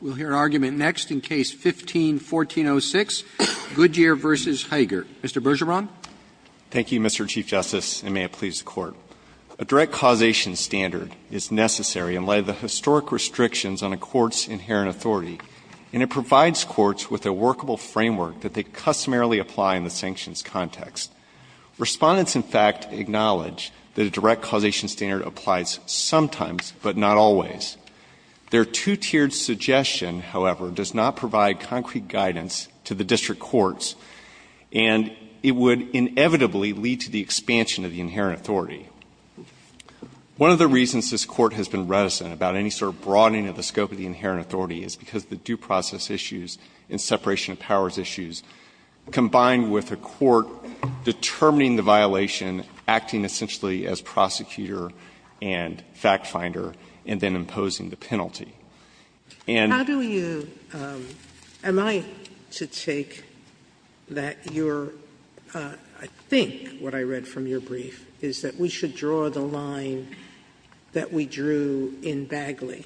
We'll hear an argument next in Case 15-1406, Goodyear v. Haeger. Mr. Bergeron. Thank you, Mr. Chief Justice, and may it please the Court. A direct causation standard is necessary in light of the historic restrictions on a court's inherent authority, and it provides courts with a workable framework that they customarily apply in the sanctions context. Respondents, in fact, acknowledge that a direct causation standard applies sometimes, but not always. Their two-tiered suggestion, however, does not provide concrete guidance to the district courts, and it would inevitably lead to the expansion of the inherent authority. One of the reasons this Court has been reticent about any sort of broadening of the scope of the inherent authority is because the due process issues and separation of powers issues, combined with a court determining the violation, acting essentially as prosecutor and fact-finder, and then imposing the penalty. And — How do you — am I to take that your — I think what I read from your brief is that we should draw the line that we drew in Bagley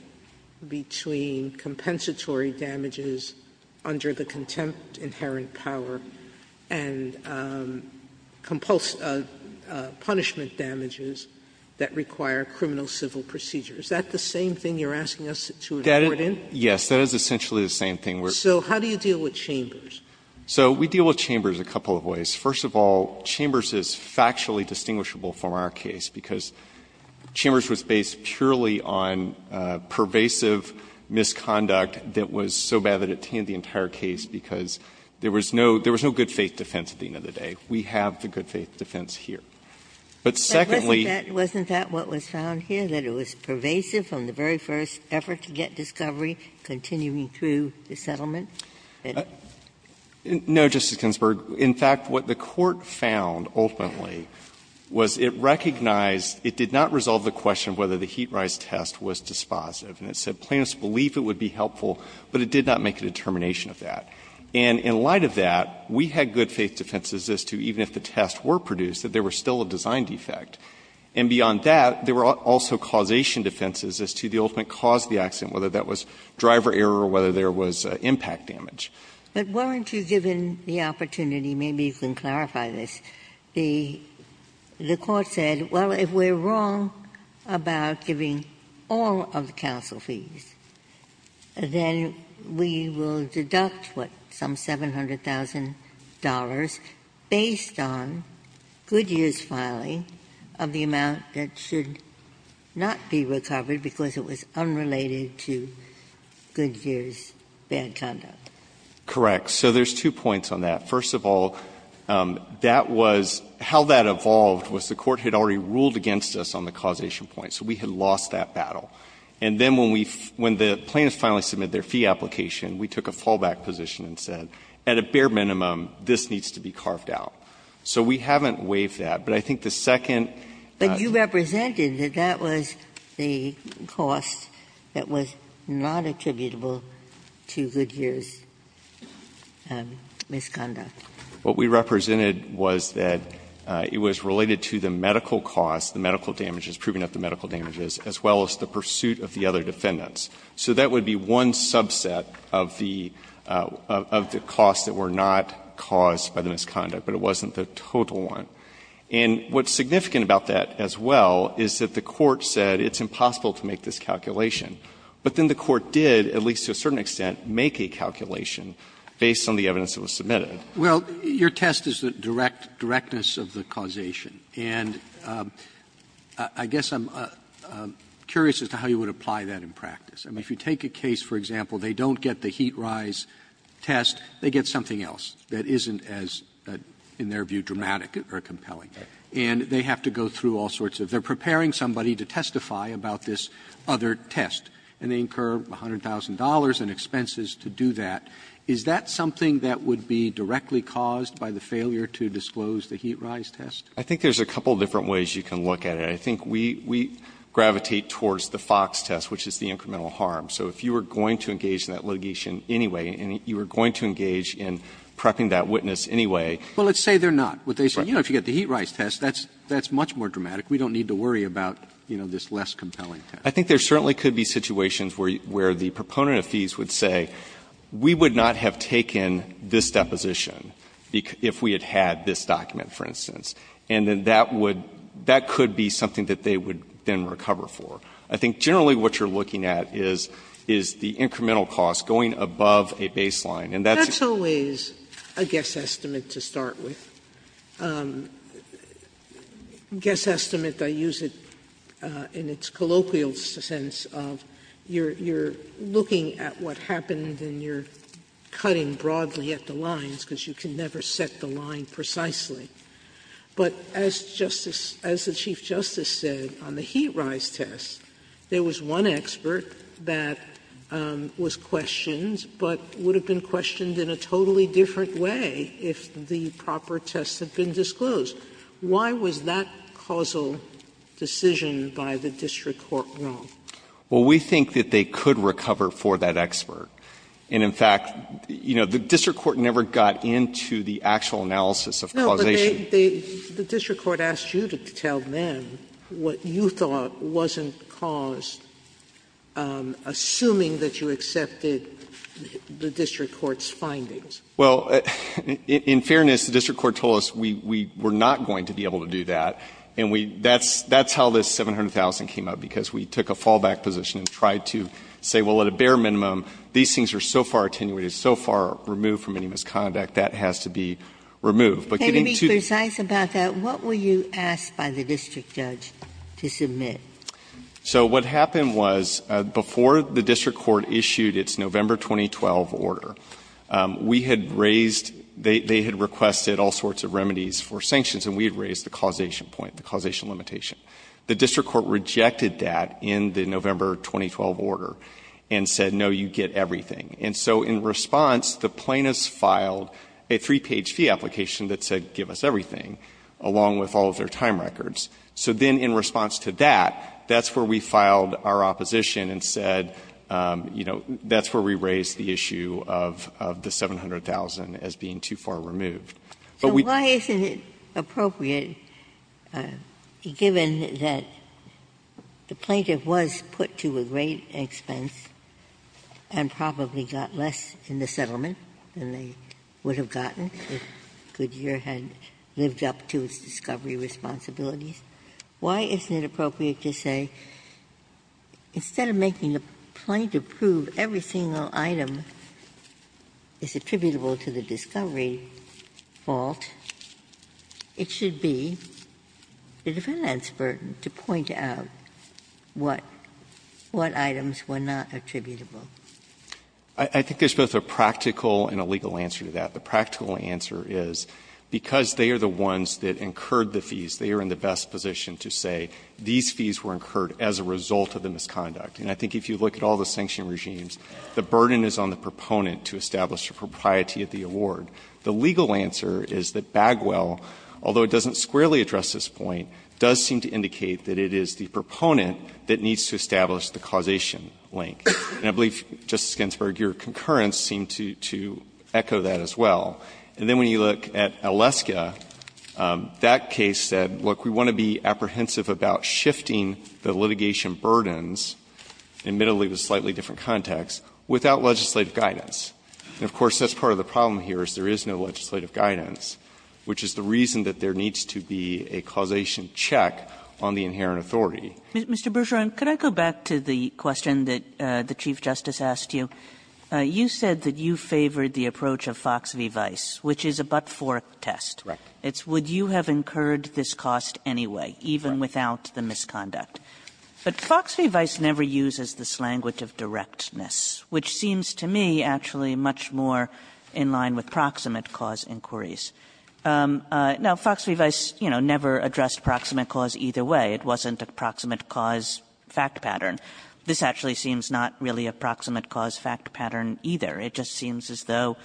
between compensatory damages under the contempt of inherent power and punishment damages that require criminal civil procedures. Is that the same thing you're asking us to report in? Yes. That is essentially the same thing. So how do you deal with Chambers? So we deal with Chambers a couple of ways. First of all, Chambers is factually distinguishable from our case because Chambers was based purely on pervasive misconduct that was so bad that it tanned the entire case, because there was no — there was no good-faith defense at the end of the day. We have the good-faith defense here. But secondly — But wasn't that — wasn't that what was found here, that it was pervasive from the very first effort to get discovery, continuing through the settlement? No, Justice Ginsburg. In fact, what the Court found, ultimately, was it recognized — it did not resolve the question of whether the heat rise test was dispositive. And it said plaintiffs believed it would be helpful, but it did not make a determination of that. And in light of that, we had good-faith defenses as to, even if the tests were produced, that there were still a design defect. And beyond that, there were also causation defenses as to the ultimate cause of the accident, whether that was driver error or whether there was impact damage. But weren't you given the opportunity — maybe you can clarify this — the Court said, well, if we're wrong about giving all of the counsel fees, then we will deduct, what, some $700,000 based on Goodyear's filing of the amount that should not be recovered because it was unrelated to Goodyear's bad conduct. Correct. So there's two points on that. First of all, that was — how that evolved was the Court had already ruled against us on the causation point, so we had lost that battle. And then when we — when the plaintiffs finally submitted their fee application, we took a fallback position and said, at a bare minimum, this needs to be carved out. So we haven't waived that. But I think the second — But you represented that that was the cost that was not attributable to Goodyear's misconduct. What we represented was that it was related to the medical cost, the medical damages, proving of the medical damages, as well as the pursuit of the other defendants. So that would be one subset of the costs that were not caused by the misconduct, but it wasn't the total one. And what's significant about that as well is that the Court said it's impossible to make this calculation. But then the Court did, at least to a certain extent, make a calculation based on the evidence that was submitted. Roberts' Well, your test is the direct — directness of the causation. And I guess I'm curious as to how you would apply that in practice. I mean, if you take a case, for example, they don't get the heat rise test. They get something else that isn't as, in their view, dramatic or compelling. And they have to go through all sorts of — they're preparing somebody to testify about this other test. And they incur $100,000 in expenses to do that. Is that something that would be directly caused by the failure to disclose the heat rise test? I think there's a couple of different ways you can look at it. I think we — we gravitate towards the Fox test, which is the incremental harm. So if you were going to engage in that litigation anyway, and you were going to engage in prepping that witness anyway. Well, let's say they're not. But they say, you know, if you get the heat rise test, that's — that's much more dramatic. We don't need to worry about, you know, this less compelling test. I think there certainly could be situations where the proponent of fees would say, we would not have taken this deposition if we had had this document, for instance. And then that would — that could be something that they would then recover for. I think generally what you're looking at is the incremental cost going above a baseline. And that's always a guess estimate to start with. And guess estimate, I use it in its colloquial sense of you're — you're looking at what happened and you're cutting broadly at the lines because you can never set the line precisely. But as Justice — as the Chief Justice said, on the heat rise test, there was one expert that was questioned, but would have been questioned in a totally different way if the proper tests had been disclosed. Why was that causal decision by the district court wrong? Well, we think that they could recover for that expert. And in fact, you know, the district court never got into the actual analysis of causation. No, but they — the district court asked you to tell them what you thought wasn't Well, in fairness, the district court told us we were not going to be able to do that. And we — that's how this $700,000 came up, because we took a fallback position and tried to say, well, at a bare minimum, these things are so far attenuated, so far removed from any misconduct, that has to be removed. But getting to the — Can you be precise about that? What were you asked by the district judge to submit? So what happened was, before the district court issued its November 2012 order, we had raised — they had requested all sorts of remedies for sanctions, and we had raised the causation point, the causation limitation. The district court rejected that in the November 2012 order and said, no, you get everything. And so in response, the plaintiffs filed a three-page fee application that said, give us everything, along with all of their time records. So then in response to that, that's where we filed our opposition and said, you know, that's where we raised the issue of the $700,000 as being too far removed. But we — Ginsburg. So why isn't it appropriate, given that the plaintiff was put to a great expense and probably got less in the settlement than they would have gotten if Goodyear had lived up to its discovery responsibilities, why isn't it appropriate to say, instead of making the plaintiff prove every single item is attributable to the discovery fault, it should be the defendant's burden to point out what — what items were not attributable? I think there's both a practical and a legal answer to that. The practical answer is, because they are the ones that incurred the fees, they are in the best position to say these fees were incurred as a result of the misconduct. And I think if you look at all the sanction regimes, the burden is on the proponent to establish the propriety of the award. The legal answer is that Bagwell, although it doesn't squarely address this point, does seem to indicate that it is the proponent that needs to establish the causation link. And I believe, Justice Ginsburg, your concurrence seemed to echo that as well. And then when you look at Aleska, that case said, look, we want to be apprehensive about shifting the litigation burdens, admittedly with slightly different context, without legislative guidance. And, of course, that's part of the problem here is there is no legislative guidance, which is the reason that there needs to be a causation check on the inherent authority. Kagan. Mr. Bergeron, could I go back to the question that the Chief Justice asked you? You said that you favored the approach of Fox v. Weiss, which is a but-for test. Bergeron Right. Kagan It's would you have incurred this cost anyway, even without the misconduct. But Fox v. Weiss never uses this language of directness, which seems to me actually much more in line with proximate cause inquiries. Now, Fox v. Weiss, you know, never addressed proximate cause either way. It wasn't a proximate cause fact pattern. This actually seems not really a proximate cause fact pattern either. It just seems as though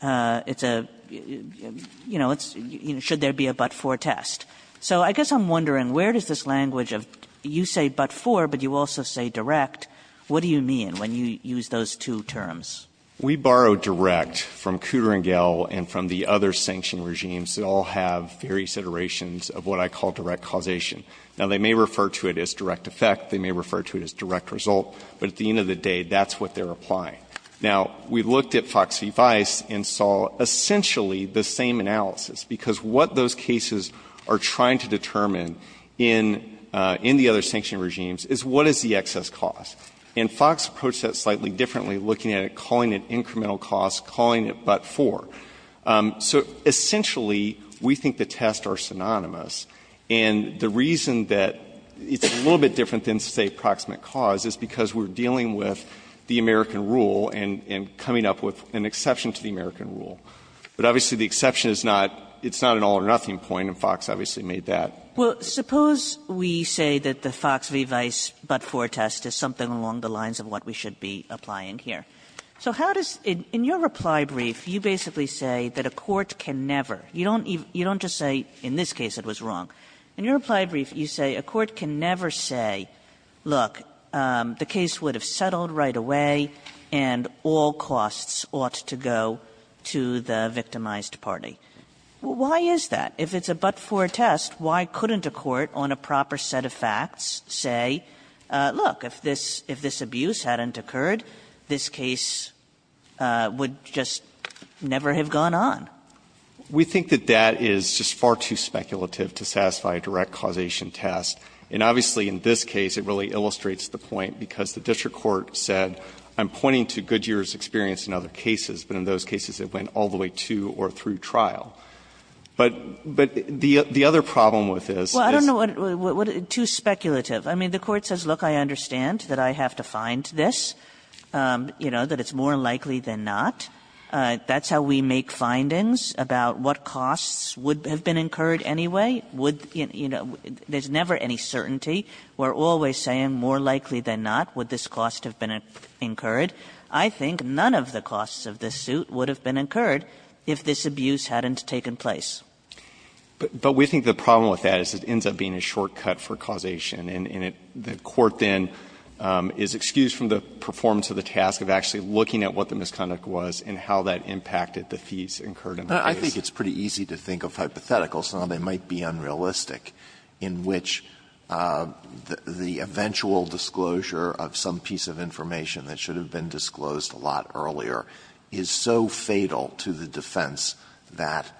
it's a, you know, it's should there be a but-for test. So I guess I'm wondering, where does this language of you say but-for, but you also say direct, what do you mean when you use those two terms? Mr. Bergeron We borrow direct from Kudringel and from the other sanctioned regimes that all have various iterations of what I call direct causation. Now, they may refer to it as direct effect. They may refer to it as direct result. But at the end of the day, that's what they're applying. Now, we looked at Fox v. Weiss and saw essentially the same analysis, because what those cases are trying to determine in the other sanctioned regimes is what is the excess cost. And Fox approached that slightly differently, looking at it, calling it incremental cause, calling it but-for. So essentially, we think the tests are synonymous, and the reason that it's a little bit different than, say, proximate cause is because we're dealing with the American rule and coming up with an exception to the American rule. But obviously the exception is not, it's not an all or nothing point, and Fox obviously made that. Kagan Well, suppose we say that the Fox v. Weiss but-for test is something along the lines of what we should be applying here. So how does, in your reply brief, you basically say that a court can never, you don't even, you don't just say, in this case it was wrong. In your reply brief, you say a court can never say, look, the case would have settled right away and all costs ought to go to the victimized party. Why is that? If it's a but-for test, why couldn't a court on a proper set of facts say, look, if this, if this abuse hadn't occurred, this case would just never have gone on? We think that that is just far too speculative to satisfy a direct causation test. And obviously in this case it really illustrates the point, because the district court said, I'm pointing to Goodyear's experience in other cases, but in those cases it went all the way to or through trial. But, but the, the other problem with this is- Well, I don't know what, what, too speculative. I mean, the Court says, look, I understand that I have to find this, you know, that it's more likely than not. That's how we make findings about what costs would have been incurred anyway. Would, you know, there's never any certainty. We're always saying more likely than not would this cost have been incurred. I think none of the costs of this suit would have been incurred if this abuse hadn't taken place. But, but we think the problem with that is it ends up being a shortcut for causation. And, and it, the Court then is excused from the performance of the task of actually looking at what the misconduct was and how that impacted the fees incurred in the case. Alito, I think it's pretty easy to think of hypotheticals, and they might be unrealistic, in which the, the eventual disclosure of some piece of information that should have been disclosed a lot earlier is so fatal to the defense that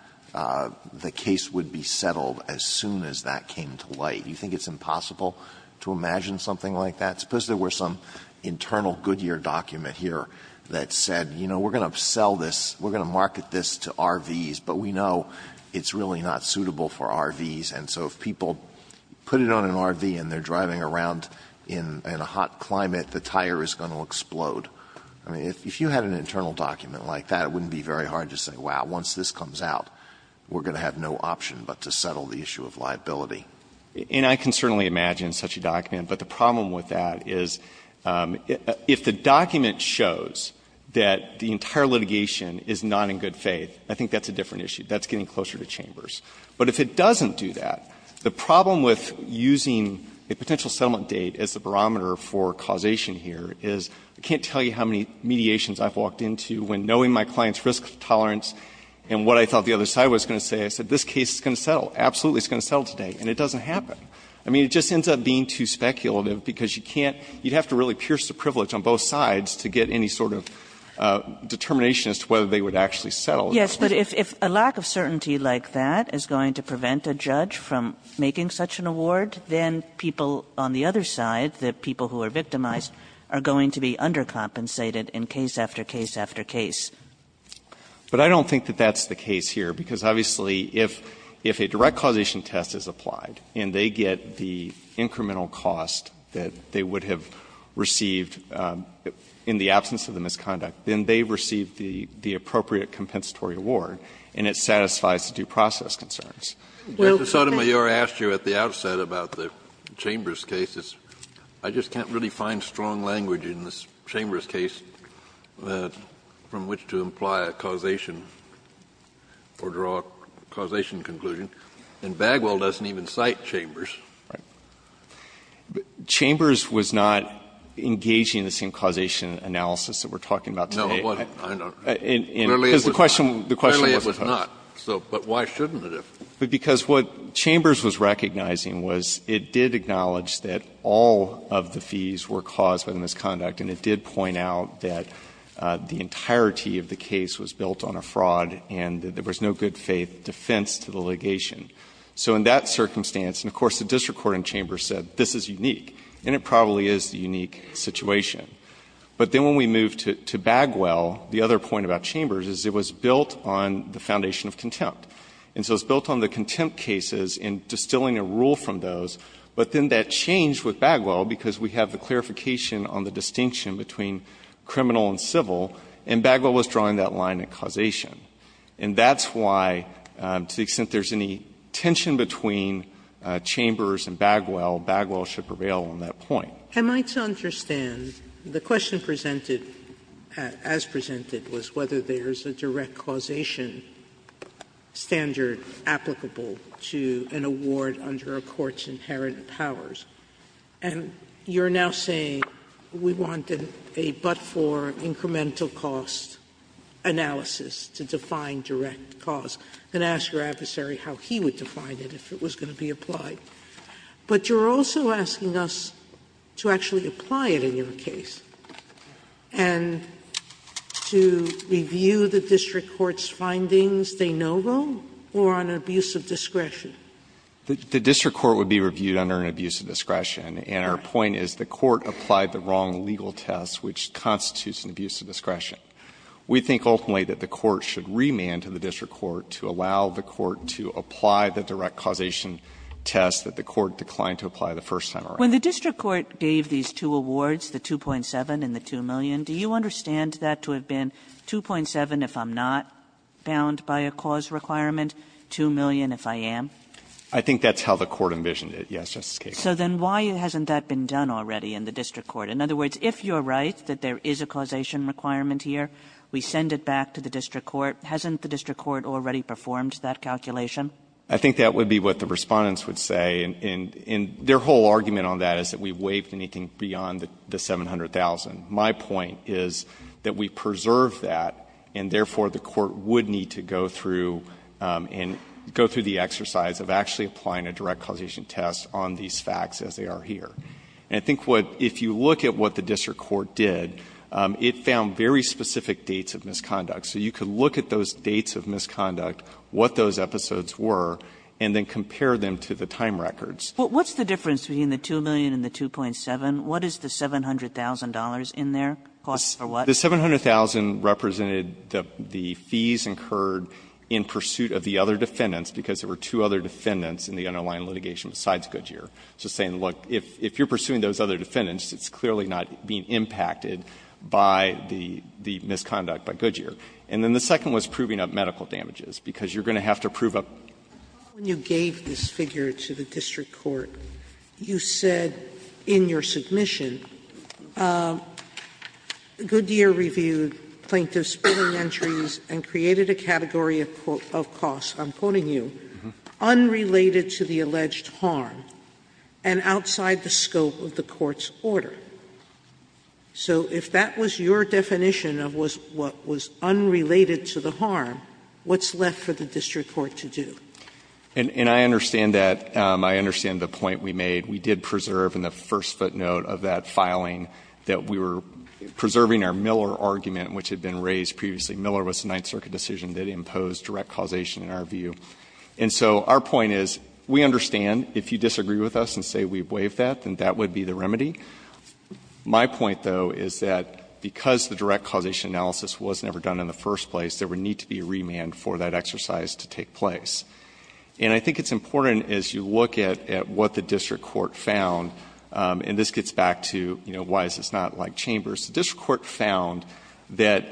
the case would be settled as soon as that came to light. Do you think it's impossible to imagine something like that? Suppose there were some internal Goodyear document here that said, you know, we're going to sell this, we're going to market this to RVs, but we know it's really not suitable for RVs. And so if people put it on an RV and they're driving around in, in a hot climate, the tire is going to explode. I mean, if, if you had an internal document like that, it wouldn't be very hard to say, wow, once this comes out, we're going to have no option but to settle the issue of liability. And I can certainly imagine such a document, but the problem with that is, if the document shows that the entire litigation is not in good faith, I think that's a different issue. That's getting closer to Chambers. But if it doesn't do that, the problem with using a potential settlement date as a barometer for causation here is, I can't tell you how many mediations I've walked into when knowing my client's risk tolerance and what I thought the other side was going to say. I said, this case is going to settle, absolutely, it's going to settle today. And it doesn't happen. I mean, it just ends up being too speculative because you can't, you'd have to really pierce the privilege on both sides to get any sort of determination as to whether they would actually settle. Kagan. Yes, but if, if a lack of certainty like that is going to prevent a judge from making such an award, then people on the other side, the people who are victimized, are going to be undercompensated in case after case after case. But I don't think that that's the case here, because obviously, if, if a direct causation test is applied and they get the incremental cost that they would have received in the absence of the misconduct, then they've received the, the appropriate compensatory award, and it satisfies the due process concerns. Kennedy. Justice Sotomayor asked you at the outset about the Chambers case. I just can't really find strong language in the Chambers case from which to imply a causation or draw a causation conclusion, and Bagwell doesn't even cite Chambers. Chambers was not engaging the same causation analysis that we're talking about today. No, it wasn't. I know. Because the question, the question wasn't posed. Clearly it was not. So, but why shouldn't it have? Because what Chambers was recognizing was it did acknowledge that all of the fees were caused by the misconduct, and it did point out that the entirety of the case was built on a fraud and that there was no good faith defense to the litigation. So in that circumstance, and of course the district court in Chambers said this is unique, and it probably is the unique situation. But then when we move to, to Bagwell, the other point about Chambers is it was built on the foundation of contempt. And so it's built on the contempt cases and distilling a rule from those. But then that changed with Bagwell because we have the clarification on the distinction between criminal and civil, and Bagwell was drawing that line in causation. And that's why, to the extent there's any tension between Chambers and Bagwell, Bagwell should prevail on that point. Sotomayor, I might so understand, the question presented, as presented, was whether there's a direct causation standard applicable to an award under a court's inherent powers. And you're now saying we wanted a but-for incremental cost analysis to define direct cause, and ask your adversary how he would define it if it was going to be applied. But you're also asking us to actually apply it in your case and to review the district court's findings de novo or on an abuse of discretion. The district court would be reviewed under an abuse of discretion, and our point is the court applied the wrong legal test, which constitutes an abuse of discretion. We think ultimately that the court should remand to the district court to allow the court to apply the direct causation test that the court declined to apply the first time around. Kagan, I think that's how the court envisioned it. Yes, Justice Kagan. Kagan, so then why hasn't that been done already in the district court? In other words, if you're right that there is a causation requirement here, we send it back to the district court, hasn't the district court already performed that calculation? I think that would be what the respondents would say, and their whole argument on that is that we've waived anything beyond the $700,000. My point is that we preserved that, and therefore the court would need to go through and go through the exercise of actually applying a direct causation test on these facts as they are here. I think if you look at what the district court did, it found very specific dates of misconduct. So you could look at those dates of misconduct, what those episodes were, and then compare them to the time records. But what's the difference between the $2 million and the $2.7 million? What is the $700,000 in there? The $700,000 represented the fees incurred in pursuit of the other defendants, because there were two other defendants in the underlying litigation besides Goodyear. So saying, look, if you're pursuing those other defendants, it's clearly not being impacted by the misconduct by Goodyear. And then the second was proving of medical damages, because you're going to have to prove a period of time. Sotomayor, when you gave this figure to the district court, you said in your submission Goodyear reviewed plaintiffs' billing entries and created a category of costs, I'm quoting you, unrelated to the alleged harm and outside the scope of the court's order. So if that was your definition of what was unrelated to the harm, what's left for the district court to do? And I understand that. I understand the point we made. We did preserve in the first footnote of that filing that we were preserving our Miller argument, which had been raised previously. Miller was the Ninth Circuit decision that imposed direct causation in our view. And so our point is, we understand if you disagree with us and say we waived that, then that would be the remedy. My point, though, is that because the direct causation analysis was never done in the first place, there would need to be a remand for that exercise to take place. And I think it's important as you look at what the district court found, and this gets back to, you know, why is this not like Chambers, the district court found that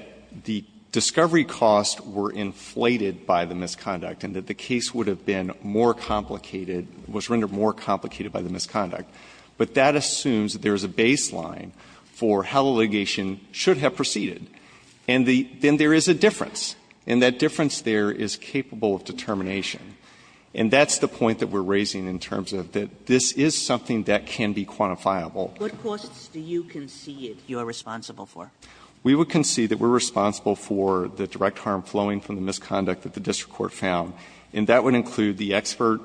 the discovery costs were inflated by the misconduct and that the case would have been more complicated, was rendered more complicated by the misconduct. But that assumes that there is a baseline for how the litigation should have proceeded. And then there is a difference. And that difference there is capable of determination. And that's the point that we're raising in terms of that this is something that can be quantifiable. What costs do you concede you're responsible for? We would concede that we're responsible for the direct harm flowing from the misconduct that the district court found. And that would include the expert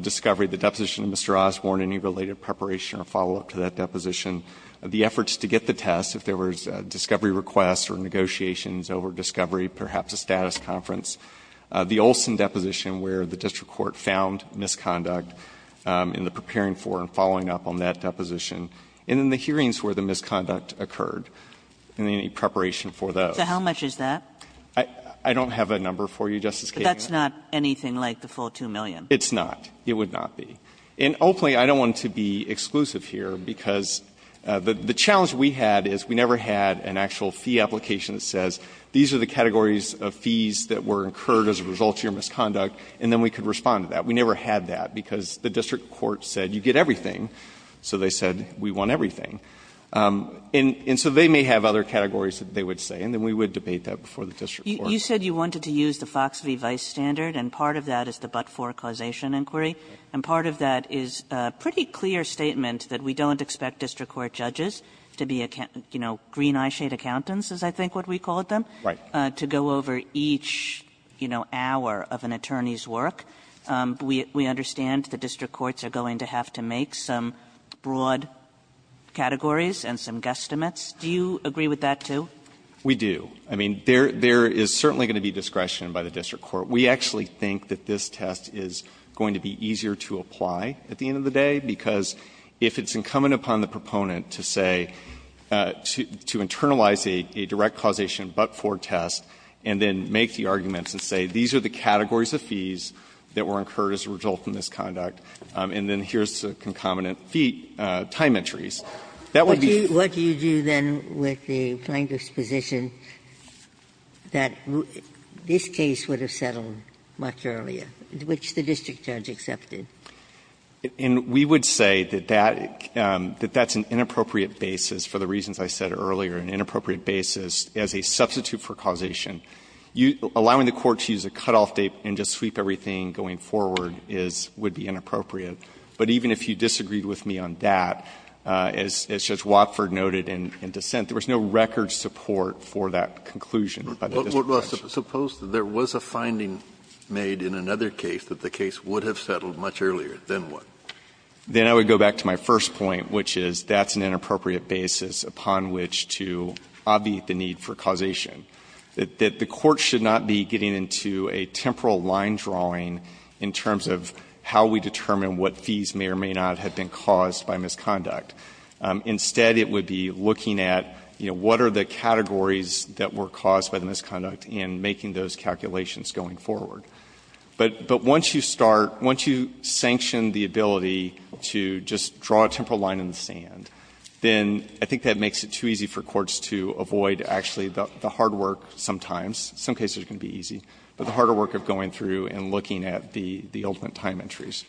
discovery, the deposition of Mr. Osborne, any related preparation or follow-up to that deposition, the efforts to get the test if there was a discovery request or negotiations over discovery, perhaps a status conference, the Olson deposition where the district court found misconduct in the preparing for and following up on that deposition, and then the hearings where the misconduct occurred, and any preparation for those. So how much is that? I don't have a number for you, Justice Kagan. But that's not anything like the full 2 million. It's not. It would not be. And ultimately, I don't want to be exclusive here, because the challenge we had is we never had an actual fee application that says these are the categories of fees that were incurred as a result of your misconduct, and then we could respond to that. We never had that, because the district court said you get everything, so they said we want everything. And so they may have other categories that they would say, and then we would debate that before the district court. Kagan. You said you wanted to use the Fox v. Vice standard, and part of that is the but-for causation inquiry, and part of that is a pretty clear statement that we don't expect district court judges to be, you know, green-eye shade accountants, is I think what we call them, to go over each, you know, hour of an attorney's work. We understand the district courts are going to have to make some broad categories and some guesstimates. Do you agree with that, too? We do. I mean, there is certainly going to be discretion by the district court. We actually think that this test is going to be easier to apply at the end of the day, because if it's incumbent upon the proponent to say, to internalize a direct causation but-for test and then make the arguments and say these are the categories of fees that were incurred as a result of the misconduct, and then here is the concomitant fee time entries, that would be. What do you do, then, with the plaintiff's position that this case would have settled much earlier, which the district judge accepted? And we would say that that's an inappropriate basis, for the reasons I said earlier, an inappropriate basis as a substitute for causation. Allowing the court to use a cutoff date and just sweep everything going forward would be inappropriate. But even if you disagreed with me on that, as Judge Watford noted in dissent, there was no record support for that conclusion by the district judge. Kennedy, suppose there was a finding made in another case that the case would have settled much earlier. Then what? Then I would go back to my first point, which is that's an inappropriate basis upon which to obviate the need for causation. The court should not be getting into a temporal line drawing in terms of how we determine what fees may or may not have been caused by misconduct. Instead, it would be looking at, you know, what are the categories that were caused by the misconduct in making those calculations going forward. But once you start, once you sanction the ability to just draw a temporal line in the sand, then I think that makes it too easy for courts to avoid actually the hard work sometimes, in some cases it can be easy, but the harder work of going through and looking at the ultimate time entries.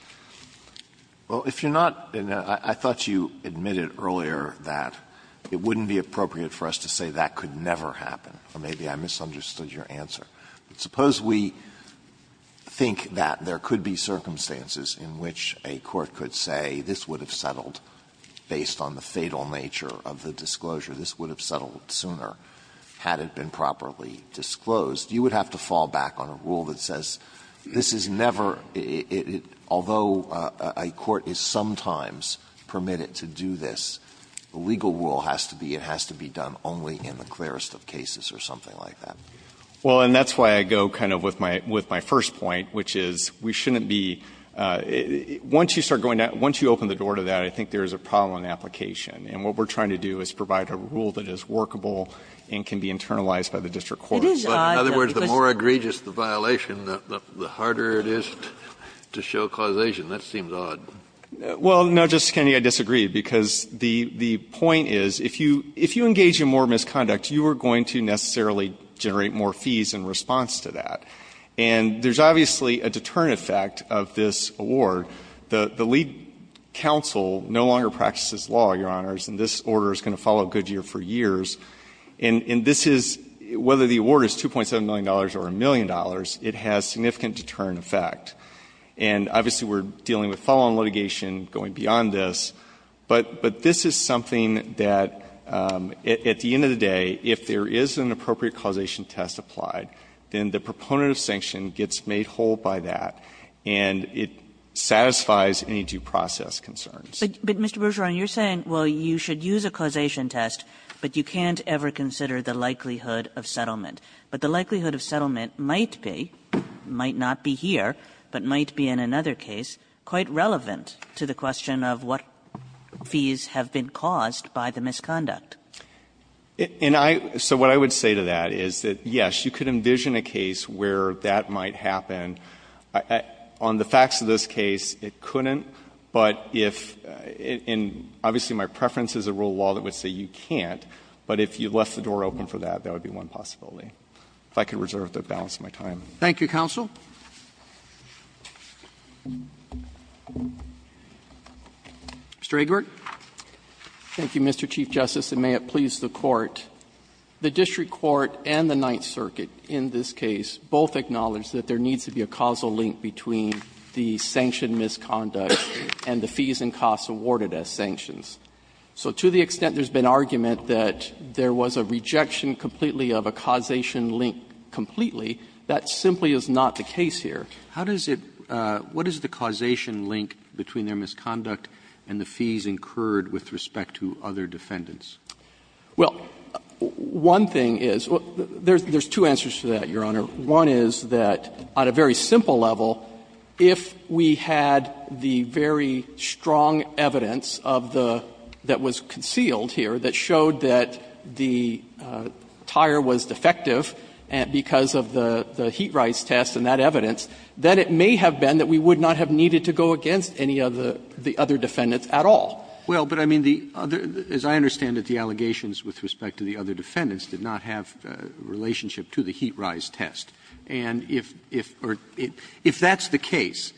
Alito, I thought you admitted earlier that it wouldn't be appropriate for us to say that could never happen, or maybe I misunderstood your answer. Suppose we think that there could be circumstances in which a court could say this would have settled based on the fatal nature of the disclosure, this would have settled sooner had it been properly disclosed, you would have to fall back on a rule that says this is never, although a court is sometimes permitted to do this, the legal rule has to be it has to be done only in the clearest of cases or something like that. Well, and that's why I go kind of with my first point, which is we shouldn't be, once you start going down, once you open the door to that, I think there is a problem in the application. And what we're trying to do is provide a rule that is workable and can be internalized by the district courts. But in other words, the more egregious the violation, the harder it is to show causation. That seems odd. Well, no, Justice Kennedy, I disagree, because the point is if you engage in more misconduct, you are going to necessarily generate more fees in response to that. And there's obviously a deterrent effect of this award. The lead counsel no longer practices law, Your Honors, and this order is going to follow Goodyear for years. And this is, whether the award is $2.7 million or a million dollars, it has significant deterrent effect. And obviously we're dealing with follow-on litigation going beyond this, but this is something that at the end of the day, if there is an appropriate causation test applied, then the proponent of sanction gets made whole by that, and it satisfies any due process concerns. Kagan. But, Mr. Bergeron, you're saying, well, you should use a causation test, but you can't ever consider the likelihood of settlement. But the likelihood of settlement might be, might not be here, but might be in another case, quite relevant to the question of what fees have been caused by the misconduct. And I so what I would say to that is that, yes, you could envision a case where that might happen. On the facts of this case, it couldn't, but if — and obviously my preference is a rule of law that would say you can't, but if you left the door open for that, that would be one possibility. If I could reserve the balance of my time. Thank you, counsel. Mr. Egbert. Thank you, Mr. Chief Justice, and may it please the Court. The district court and the Ninth Circuit in this case both acknowledge that there is a causal link between the sanctioned misconduct and the fees and costs awarded as sanctions. So to the extent there's been argument that there was a rejection completely of a causation link completely, that simply is not the case here. How does it — what is the causation link between their misconduct and the fees incurred with respect to other defendants? Well, one thing is — there's two answers to that, Your Honor. One is that on a very simple level, if we had the very strong evidence of the — that was concealed here that showed that the tire was defective because of the heat-rise test and that evidence, then it may have been that we would not have needed to go against any of the other defendants at all. Well, but I mean, the other — as I understand it, the allegations with respect to the other defendants did not have a relationship to the heat-rise test. And if — or if that's the case,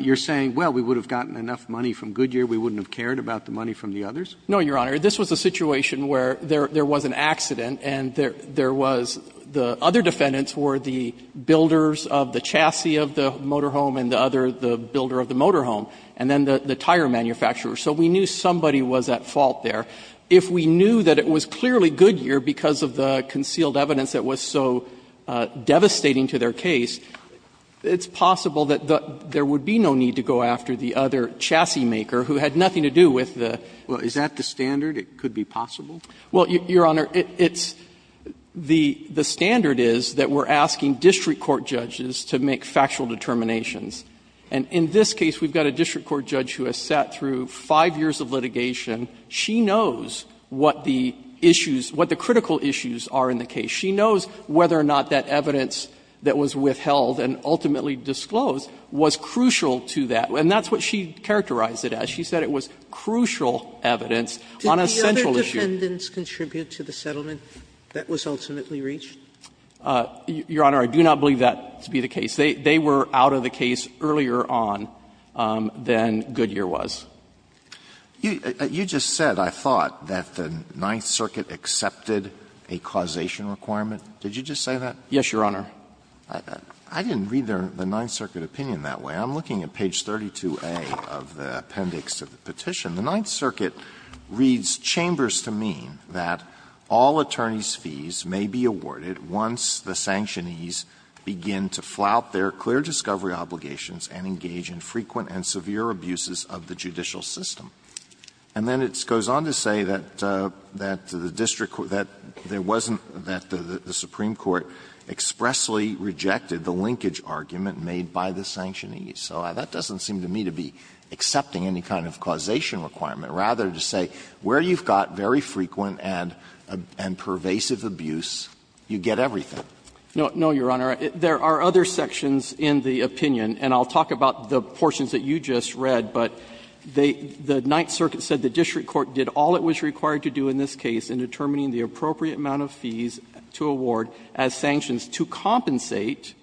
you're saying, well, we would have gotten enough money from Goodyear, we wouldn't have cared about the money from the others? No, Your Honor. This was a situation where there was an accident and there was — the other defendants were the builders of the chassis of the motorhome and the other, the builder of the motorhome, and then the tire manufacturer. So we knew somebody was at fault there. If we knew that it was clearly Goodyear because of the concealed evidence that was so devastating to their case, it's possible that there would be no need to go after the other chassis maker who had nothing to do with the — Well, is that the standard? It could be possible? Well, Your Honor, it's — the standard is that we're asking district court judges to make factual determinations. And in this case, we've got a district court judge who has sat through five years of litigation. She knows what the issues — what the critical issues are in the case. She knows whether or not that evidence that was withheld and ultimately disclosed was crucial to that. And that's what she characterized it as. She said it was crucial evidence on a central issue. Did the other defendants contribute to the settlement that was ultimately reached? Your Honor, I do not believe that to be the case. They were out of the case earlier on than Goodyear was. You just said, I thought, that the Ninth Circuit accepted a causation requirement. Did you just say that? Yes, Your Honor. I didn't read the Ninth Circuit opinion that way. I'm looking at page 32A of the appendix of the petition. The Ninth Circuit reads, "...chambers to mean that all attorneys' fees may be awarded once the sanctionees begin to flout their clear discovery obligations and engage in frequent and severe abuses of the judicial system." And then it goes on to say that the district — that there wasn't — that the Supreme Court expressly rejected the linkage argument made by the sanctionees. So that doesn't seem to me to be accepting any kind of causation requirement. Rather, to say where you've got very frequent and pervasive abuse, you get everything. No, Your Honor. There are other sections in the opinion, and I'll talk about the portions that you just read, but they — the Ninth Circuit said the district court did all it was required to do in this case in determining the appropriate amount of fees to award as sanctions to compensate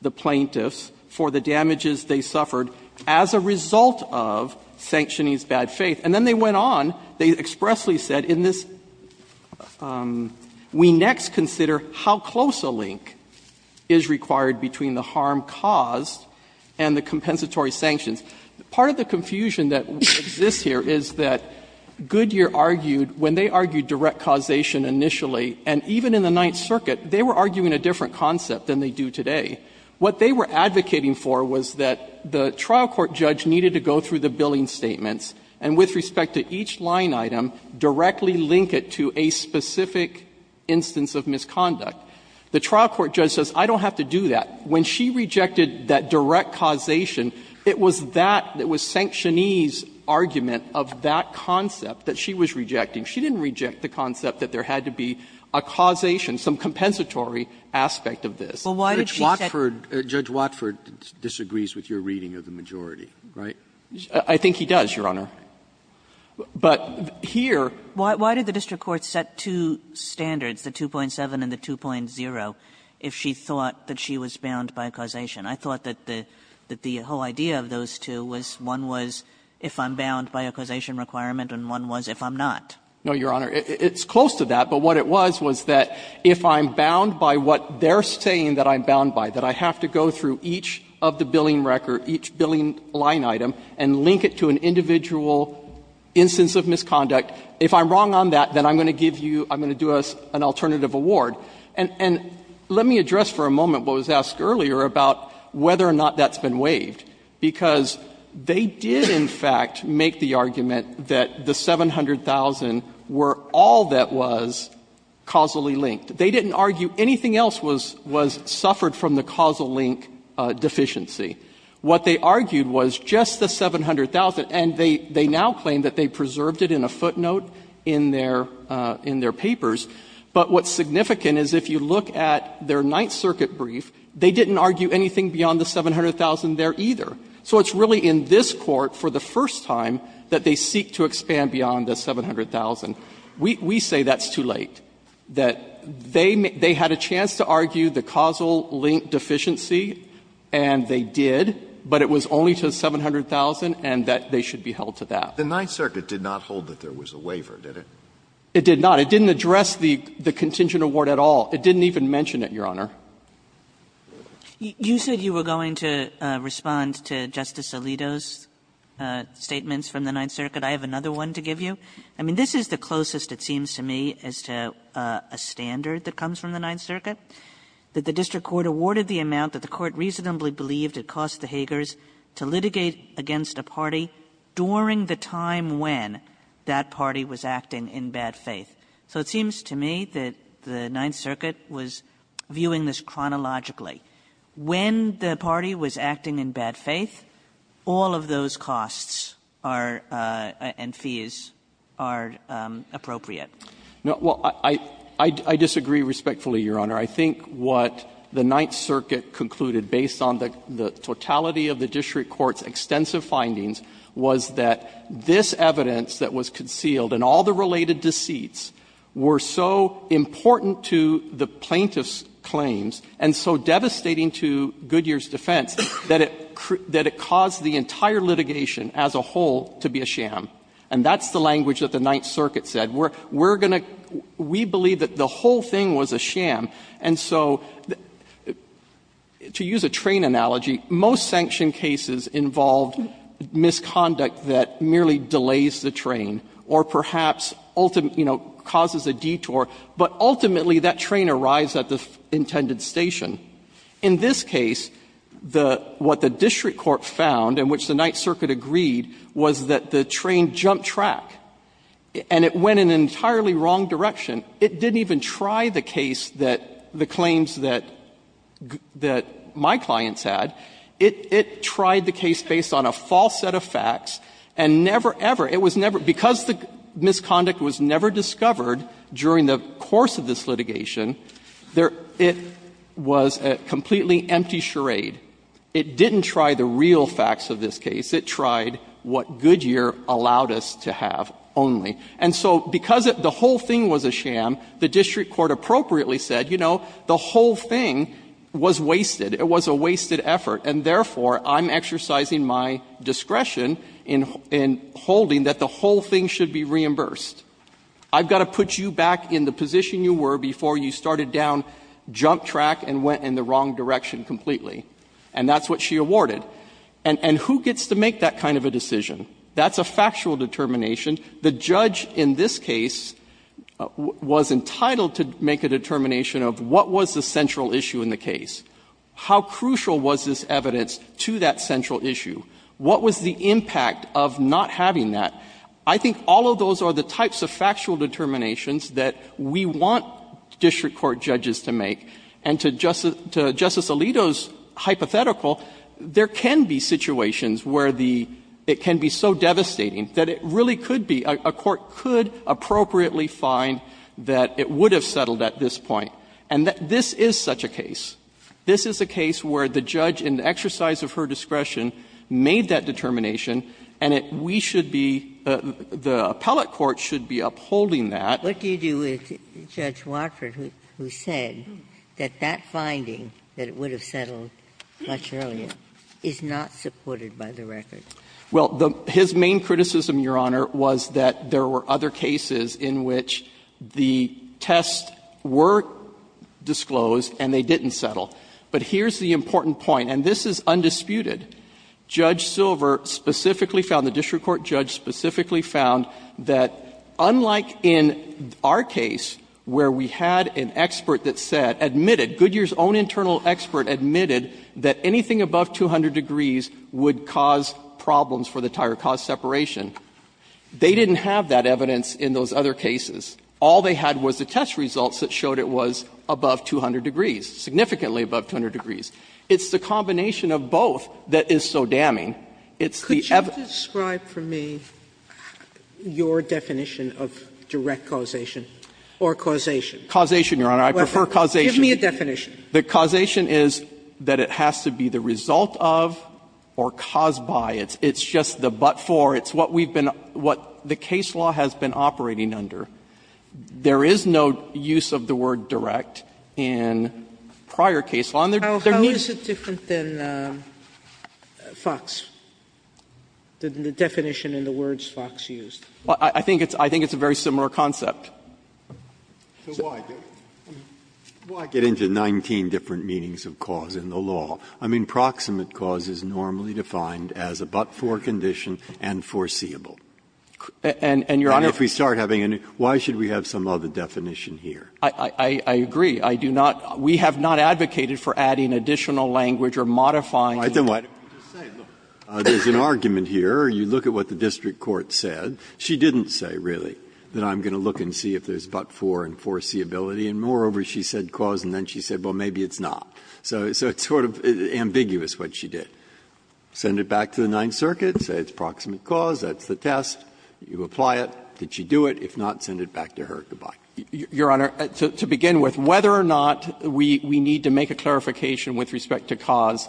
the plaintiffs for the damages they suffered as a result of sanctionees' bad faith. And then they went on, they expressly said in this, we next consider how close a link is required between the harm caused and the compensatory sanctions. Part of the confusion that exists here is that Goodyear argued, when they argued direct causation initially, and even in the Ninth Circuit, they were arguing a different concept than they do today. What they were advocating for was that the trial court judge needed to go through the billing statements and, with respect to each line item, directly link it to a specific instance of misconduct. The trial court judge says, I don't have to do that. When she rejected that direct causation, it was that — it was sanctionee's argument of that concept that she was rejecting. She didn't reject the concept that there had to be a causation, some compensatory aspect of this. Kagan, Judge Watford disagrees with your reading of the majority, right? I think he does, Your Honor. But here — Kagan, why did the district court set two standards, the 2.7 and the 2.0, if she thought that she was bound by causation? I thought that the whole idea of those two was one was if I'm bound by a causation requirement and one was if I'm not. No, Your Honor. It's close to that, but what it was, was that if I'm bound by what they're saying that I'm bound by, that I have to go through each of the billing record, each billing line item, and link it to an individual instance of misconduct, if I'm wrong on that, then I'm going to give you — I'm going to do an alternative award. And let me address for a moment what was asked earlier about whether or not that's been waived, because they did, in fact, make the argument that the 700,000 were all that was causally linked. They didn't argue anything else was — was suffered from the causal link deficiency. What they argued was just the 700,000, and they now claim that they preserved it in a footnote in their papers. But what's significant is if you look at their Ninth Circuit brief, they didn't argue anything beyond the 700,000 there either. So it's really in this Court, for the first time, that they seek to expand beyond the 700,000. We say that's too late, that they had a chance to argue the causal link deficiency, and they did, but it was only to the 700,000, and that they should be held to that. Alitoso, the Ninth Circuit did not hold that there was a waiver, did it? It did not. It didn't address the contingent award at all. It didn't even mention it, Your Honor. Kagan. You said you were going to respond to Justice Alito's statements from the Ninth Circuit. I have another one to give you. I mean, this is the closest, it seems to me, as to a standard that comes from the Ninth Circuit, that the district court awarded the amount that the court reasonably believed it cost the Hagers to litigate against a party during the time when that party was acting in bad faith. So it seems to me that the Ninth Circuit was viewing this chronologically. When the party was acting in bad faith, all of those costs are and fees are appropriate. Well, I disagree respectfully, Your Honor. I think what the Ninth Circuit concluded, based on the totality of the district court's extensive findings, was that this evidence that was concealed and all the related deceits were so important to the plaintiff's claims and so devastating to Goodyear's defense that it caused the entire litigation as a whole to be a sham. And that's the language that the Ninth Circuit said. We're going to we believe that the whole thing was a sham. And so to use a train analogy, most sanction cases involved misconduct that merely delays the train or perhaps causes a detour, but ultimately that train arrives at the intended station. In this case, what the district court found, in which the Ninth Circuit agreed, was that the train jumped track and it went in an entirely wrong direction. It didn't even try the case that the claims that my clients had. It tried the case based on a false set of facts and never, ever, it was never, because the misconduct was never discovered during the course of this litigation, it was a completely empty charade. It didn't try the real facts of this case. It tried what Goodyear allowed us to have only. And so because the whole thing was a sham, the district court appropriately said, you know, the whole thing was wasted. It was a wasted effort, and therefore, I'm exercising my discretion in holding that the whole thing should be reimbursed. I've got to put you back in the position you were before you started down jump track and went in the wrong direction completely. And that's what she awarded. And who gets to make that kind of a decision? That's a factual determination. The judge in this case was entitled to make a determination of what was the central issue in the case. How crucial was this evidence to that central issue? What was the impact of not having that? I think all of those are the types of factual determinations that we want district court judges to make. And to Justice Alito's hypothetical, there can be situations where the – it can be so devastating that it really could be, a court could appropriately find that it would This is a case where the judge, in the exercise of her discretion, made that determination, and we should be – the appellate court should be upholding that. Ginsburg. What do you do with Judge Watford, who said that that finding, that it would have settled much earlier, is not supported by the record? Well, his main criticism, Your Honor, was that there were other cases in which the But here's the important point, and this is undisputed. Judge Silver specifically found, the district court judge specifically found that, unlike in our case where we had an expert that said, admitted, Goodyear's own internal expert admitted that anything above 200 degrees would cause problems for the tire, cause separation, they didn't have that evidence in those other cases. All they had was the test results that showed it was above 200 degrees. It was significantly above 200 degrees. It's the combination of both that is so damning. It's the evidence. Could you describe for me your definition of direct causation or causation? Causation, Your Honor. I prefer causation. Give me a definition. The causation is that it has to be the result of or caused by. It's just the but for. It's what we've been – what the case law has been operating under. There is no use of the word direct in prior case law. And there needs to be a difference. Sotomayor, how is it different than FOX, the definition in the words FOX used? Well, I think it's a very similar concept. Breyer, why get into 19 different meanings of cause in the law? I mean, proximate cause is normally defined as a but-for condition and foreseeable. And, Your Honor, if we start having any – Why should we have some other definition here? I agree. I do not – we have not advocated for adding additional language or modifying the – I think what you're saying, there's an argument here, or you look at what the district court said. She didn't say, really, that I'm going to look and see if there's but-for and foreseeability. And moreover, she said cause, and then she said, well, maybe it's not. So it's sort of ambiguous what she did. Send it back to the Ninth Circuit, say it's proximate cause, that's the test. You apply it. Did she do it? If not, send it back to her. Goodbye. Your Honor, to begin with, whether or not we need to make a clarification with respect to cause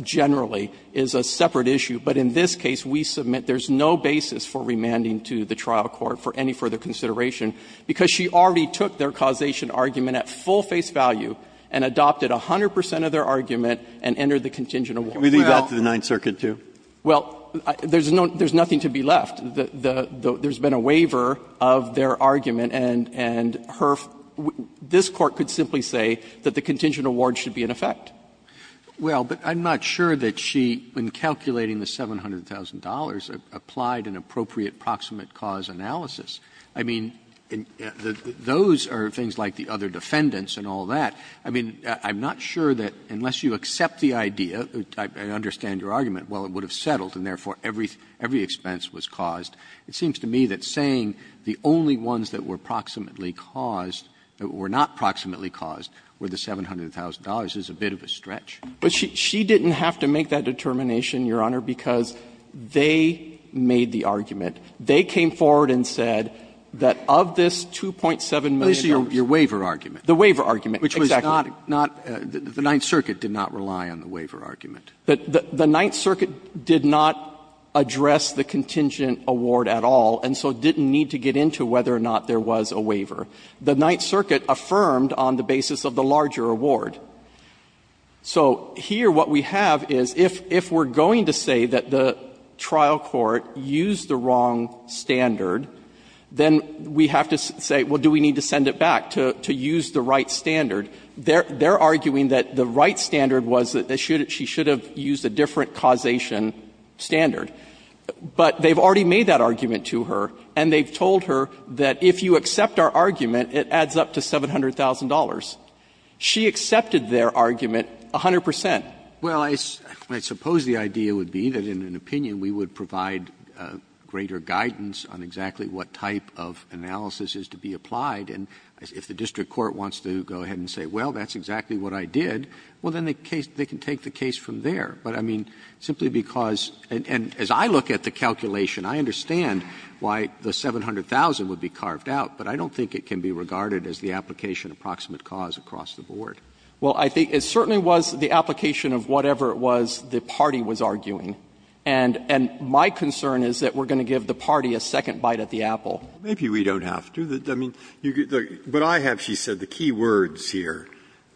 generally is a separate issue. But in this case, we submit there's no basis for remanding to the trial court for any further consideration, because she already took their causation argument at full face value and adopted 100 percent of their argument and entered the contingent award. Well – Can we leave that to the Ninth Circuit, too? Well, there's no – there's nothing to be left. There's been a waiver of their argument, and her – this Court could simply say that the contingent award should be in effect. Well, but I'm not sure that she, in calculating the $700,000, applied an appropriate proximate cause analysis. I mean, those are things like the other defendants and all that. I mean, I'm not sure that unless you accept the idea, I understand your argument, well, it would have settled and, therefore, every expense was caused. It seems to me that saying the only ones that were proximately caused, or were not proximately caused, were the $700,000 is a bit of a stretch. She didn't have to make that determination, Your Honor, because they made the argument. They came forward and said that of this $2.7 million – At least your waiver argument. The waiver argument, exactly. Which was not – the Ninth Circuit did not rely on the waiver argument. The Ninth Circuit did not address the contingent award at all, and so didn't need to get into whether or not there was a waiver. The Ninth Circuit affirmed on the basis of the larger award. So here what we have is if we're going to say that the trial court used the wrong standard, then we have to say, well, do we need to send it back to use the right standard? They're arguing that the right standard was that she should have used a different causation standard. But they've already made that argument to her, and they've told her that if you accept our argument, it adds up to $700,000. She accepted their argument 100 percent. Well, I suppose the idea would be that in an opinion we would provide greater guidance on exactly what type of analysis is to be applied. And if the district court wants to go ahead and say, well, that's exactly what I did, well, then they can take the case from there. But, I mean, simply because – and as I look at the calculation, I understand why the $700,000 would be carved out, but I don't think it can be regarded as the application of proximate cause across the board. Well, I think it certainly was the application of whatever it was the party was arguing. And my concern is that we're going to give the party a second bite at the apple. Maybe we don't have to. Breyer, I mean, what I have, she said, the key words here,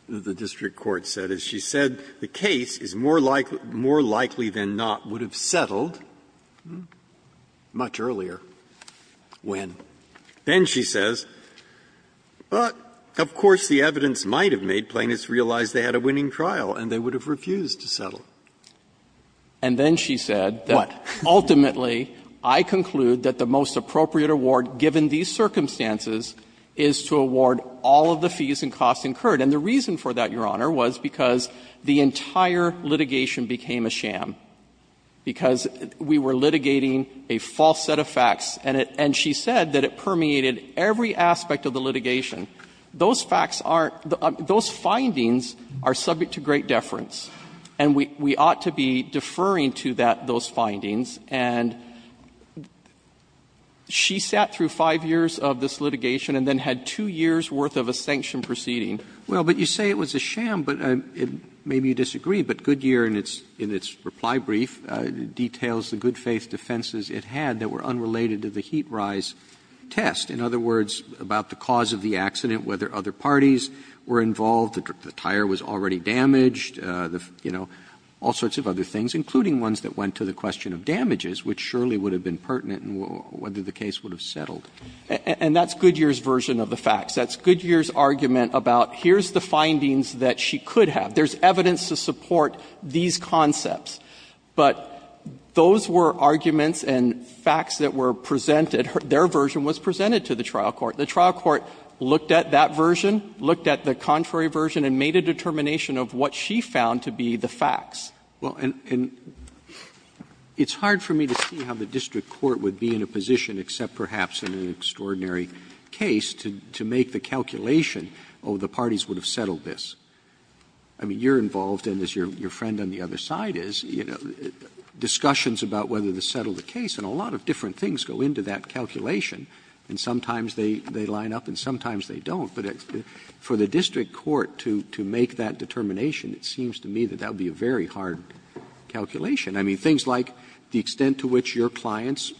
the district court said, is she said the case is more likely than not would have settled much earlier when. Then she says, but, of course, the evidence might have made Plaintiffs realize they had a winning trial, and they would have refused to settle. And then she said that ultimately I conclude that the most appropriate award, given these circumstances, is to award all of the fees and costs incurred. And the reason for that, Your Honor, was because the entire litigation became a sham, because we were litigating a false set of facts, and it – and she said that it permeated every aspect of the litigation. Those facts aren't – those findings are subject to great deference, and we – we ought to be deferring to that – those findings. And she sat through five years of this litigation and then had two years' worth of a sanction proceeding. Roberts. Well, but you say it was a sham, but maybe you disagree, but Goodyear, in its – in its reply brief, details the good-faith defenses it had that were unrelated to the heat-rise test. In other words, about the cause of the accident, whether other parties were involved, the tire was already damaged, you know, all sorts of other things, including ones that went to the question of damages, which surely would have been pertinent in whether the case would have settled. And that's Goodyear's version of the facts. That's Goodyear's argument about, here's the findings that she could have. There's evidence to support these concepts. But those were arguments and facts that were presented – their version was presented to the trial court. The trial court looked at that version, looked at the contrary version, and made a determination of what she found to be the facts. Roberts Well, and it's hard for me to see how the district court would be in a position, except perhaps in an extraordinary case, to make the calculation, oh, the parties would have settled this. I mean, you're involved, and as your friend on the other side is, you know, discussions about whether to settle the case, and a lot of different things go into that calculation, and sometimes they line up and sometimes they don't. But for the district court to make that determination, it seems to me that that would be a very hard calculation. I mean, things like the extent to which your clients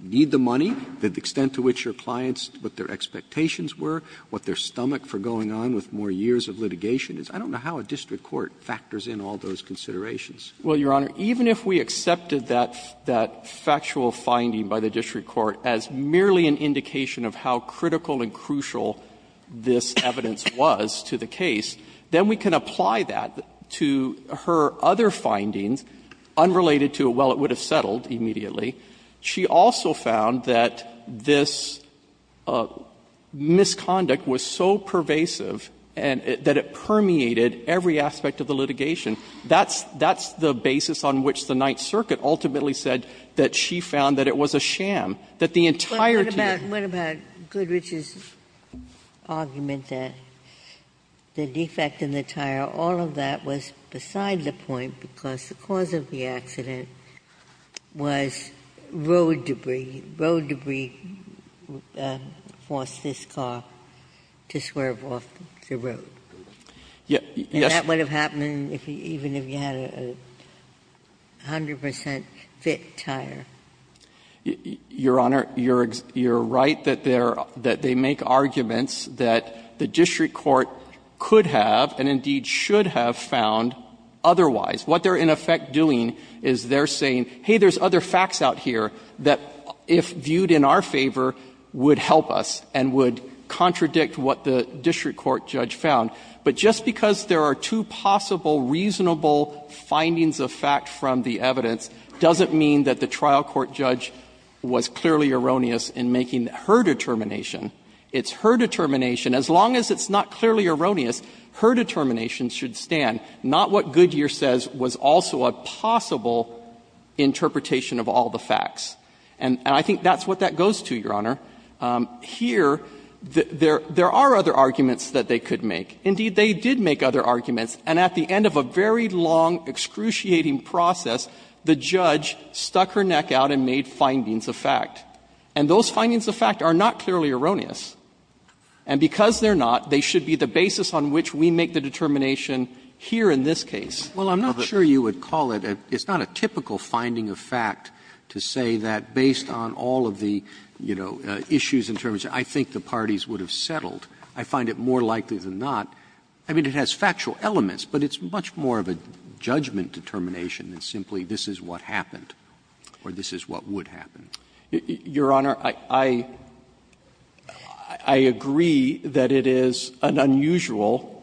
need the money, the extent to which your clients – what their expectations were, what their stomach for going on with more years of litigation is. I don't know how a district court factors in all those considerations. Waxman Well, Your Honor, even if we accepted that factual finding by the district court as merely an indication of how critical and crucial this evidence was to the case, then we can apply that to her other findings unrelated to, well, it would have settled immediately. She also found that this misconduct was so pervasive and that it permeated every aspect of the litigation. That's the basis on which the Ninth Circuit ultimately said that she found that it was a sham, that the entire team –– argued that the defect in the tire, all of that was beside the point because the cause of the accident was road debris. Road debris forced this car to swerve off the road. And that would have happened even if you had a 100 percent fit tire. Your Honor, you're right that they're – that they make arguments that the district court could have and indeed should have found otherwise. What they're in effect doing is they're saying, hey, there's other facts out here that if viewed in our favor would help us and would contradict what the district court judge found. But just because there are two possible reasonable findings of fact from the evidence doesn't mean that the trial court judge was clearly erroneous in making her determination. It's her determination. As long as it's not clearly erroneous, her determination should stand, not what Goodyear says was also a possible interpretation of all the facts. And I think that's what that goes to, Your Honor. Here, there are other arguments that they could make. Indeed, they did make other arguments. And at the end of a very long, excruciating process, the judge stuck her neck out and made findings of fact. And those findings of fact are not clearly erroneous. And because they're not, they should be the basis on which we make the determination here in this case. Roberts. Roberts. Roberts. Roberts. It's not a typical finding of fact to say that based on all of the, you know, issues in terms of I think the parties would have settled. I find it more likely than not. I mean, it has factual elements, but it's much more of a judgment determination than simply this is what happened or this is what would happen. Your Honor, I agree that it is an unusual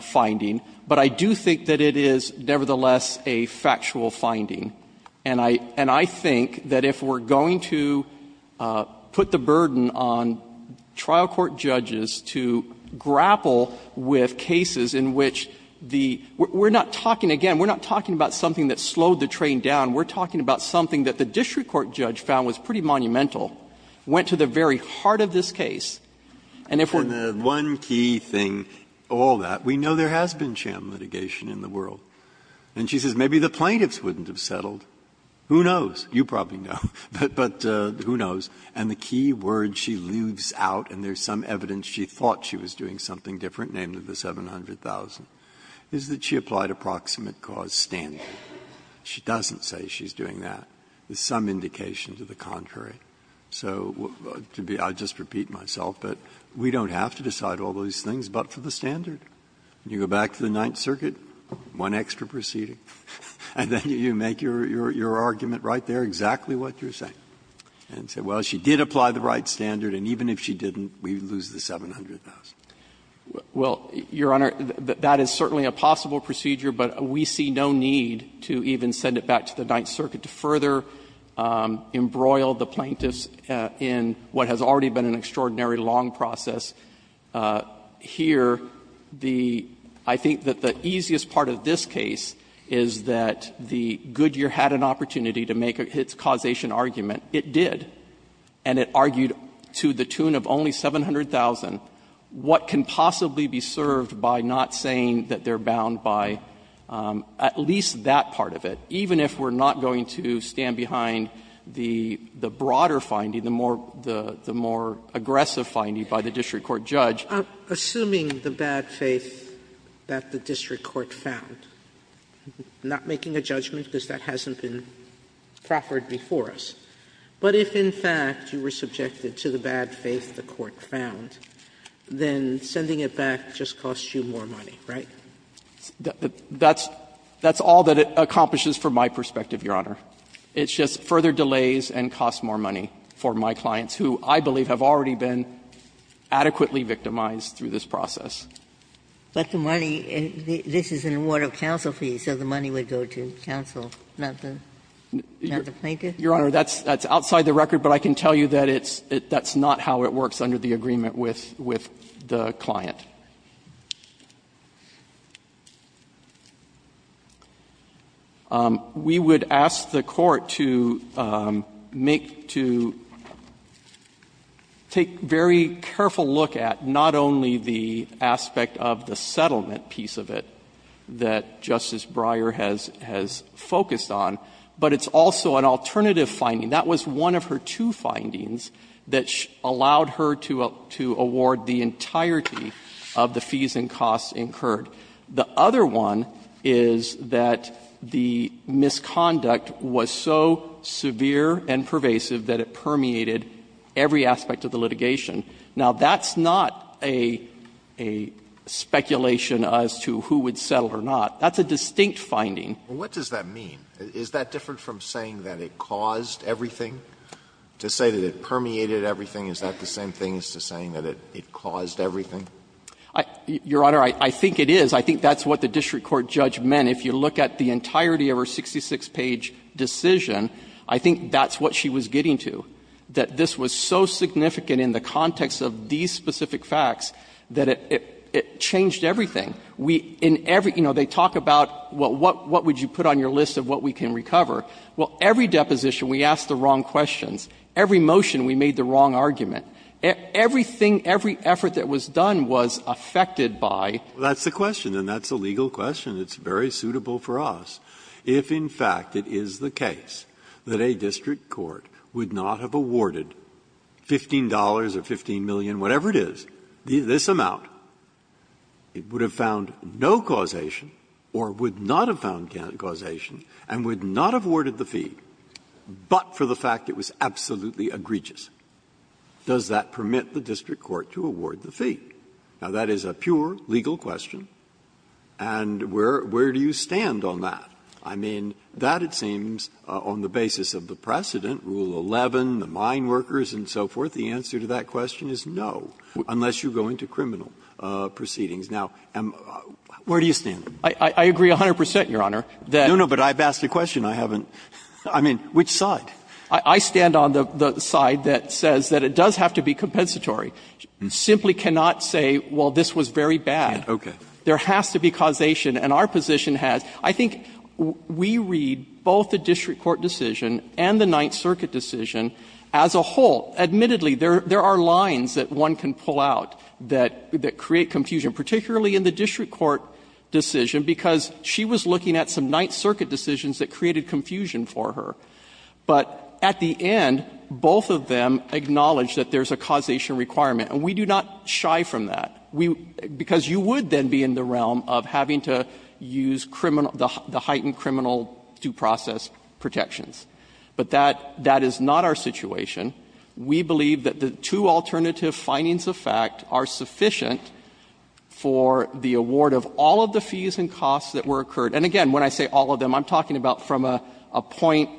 finding, but I do think that it is nevertheless a factual finding. And I think that if we're going to put the burden on trial court judges to grapple with cases in which the we're not talking again, we're not talking about something that slowed the train down. We're talking about something that the district court judge found was pretty monumental, went to the very heart of this case, and if we're. Breyer. And the one key thing, all that, we know there has been sham litigation in the world. And she says maybe the plaintiffs wouldn't have settled. Who knows? You probably know. But who knows? And the key word she leaves out, and there's some evidence she thought she was doing something different, namely the $700,000, is that she applied a proximate cause standard. She doesn't say she's doing that. There's some indication to the contrary. So to be — I'll just repeat myself, but we don't have to decide all these things but for the standard. You go back to the Ninth Circuit, one extra proceeding, and then you make your argument right there exactly what you're saying. And say, well, she did apply the right standard, and even if she didn't, we'd lose the $700,000. Well, Your Honor, that is certainly a possible procedure, but we see no need to even send it back to the Ninth Circuit to further embroil the plaintiffs in what has already been an extraordinary long process. Here, the — I think that the easiest part of this case is that the Goodyear had an opportunity to make its causation argument. It did. And it argued to the tune of only $700,000, what can possibly be served by not saying that they're bound by at least that part of it, even if we're not going to stand behind the broader finding, the more aggressive finding by the district court judge. Sotomayor, assuming the bad faith that the district court found, not making a judgment because that hasn't been proffered before us. But if, in fact, you were subjected to the bad faith the court found, then sending it back just costs you more money, right? That's all that it accomplishes from my perspective, Your Honor. It just further delays and costs more money for my clients, who I believe have already been adequately victimized through this process. But the money — this is an award of counsel fee, so the money would go to counsel, not the plaintiff? Your Honor, that's outside the record, but I can tell you that it's — that's not how it works under the agreement with the client. We would ask the Court to make — to take very careful look at not only the aspect of the settlement piece of it that Justice Breyer has focused on, but it's also an alternative finding. That was one of her two findings that allowed her to award the entirety of the fees and costs incurred. The other one is that the misconduct was so severe and pervasive that it permeated every aspect of the litigation. Now, that's not a speculation as to who would settle or not. That's a distinct finding. Alitoso, what does that mean? Is that different from saying that it caused everything? To say that it permeated everything, is that the same thing as to saying that it caused everything? Your Honor, I think it is. I think that's what the district court judge meant. If you look at the entirety of her 66-page decision, I think that's what she was getting to, that this was so significant in the context of these specific facts that it changed everything. And if you look at the entire deposition, we – in every – you know, they talk about what would you put on your list of what we can recover. Well, every deposition we asked the wrong questions. Every motion we made the wrong argument. Everything, every effort that was done was affected by. Breyer. That's the question, and that's a legal question. It's very suitable for us. If in fact it is the case that a district court would not have awarded $15 or 15 million, whatever it is, this amount, it would have found no causation or would not have found causation and would not have awarded the fee, but for the fact it was absolutely egregious, does that permit the district court to award the fee? Now, that is a pure legal question. And where do you stand on that? I mean, that it seems, on the basis of the precedent, Rule 11, the mine workers and so forth, the answer to that question is no, unless you go into criminal proceedings. Now, where do you stand? I agree 100 percent, Your Honor, that — No, no, but I've asked a question. I haven't — I mean, which side? I stand on the side that says that it does have to be compensatory. You simply cannot say, well, this was very bad. Okay. There has to be causation, and our position has. I think we read both the district court decision and the Ninth Circuit decision as a whole. Admittedly, there are lines that one can pull out that create confusion, particularly in the district court decision, because she was looking at some Ninth Circuit decisions that created confusion for her. But at the end, both of them acknowledge that there's a causation requirement, and we do not shy from that, because you would then be in the realm of having to use criminal — the heightened criminal due process protections. But that — that is not our situation. We believe that the two alternative findings of fact are sufficient for the award of all of the fees and costs that were occurred. And again, when I say all of them, I'm talking about from a point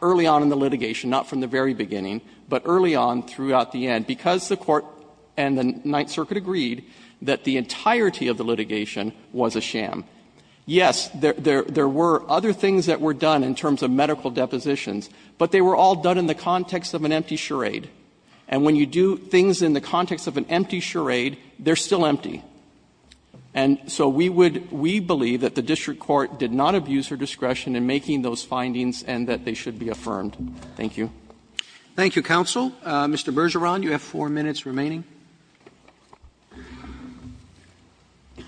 early on in the litigation, not from the very beginning, but early on throughout the end, because the Court and the Ninth Circuit agreed that the entirety of the litigation was a sham. Yes, there were other things that were done in terms of medical depositions, but they were all done in the context of an empty charade. And when you do things in the context of an empty charade, they're still empty. And so we would — we believe that the district court did not abuse her discretion in making those findings and that they should be affirmed. Thank you. Roberts. Thank you, counsel. Mr. Bergeron, you have four minutes remaining.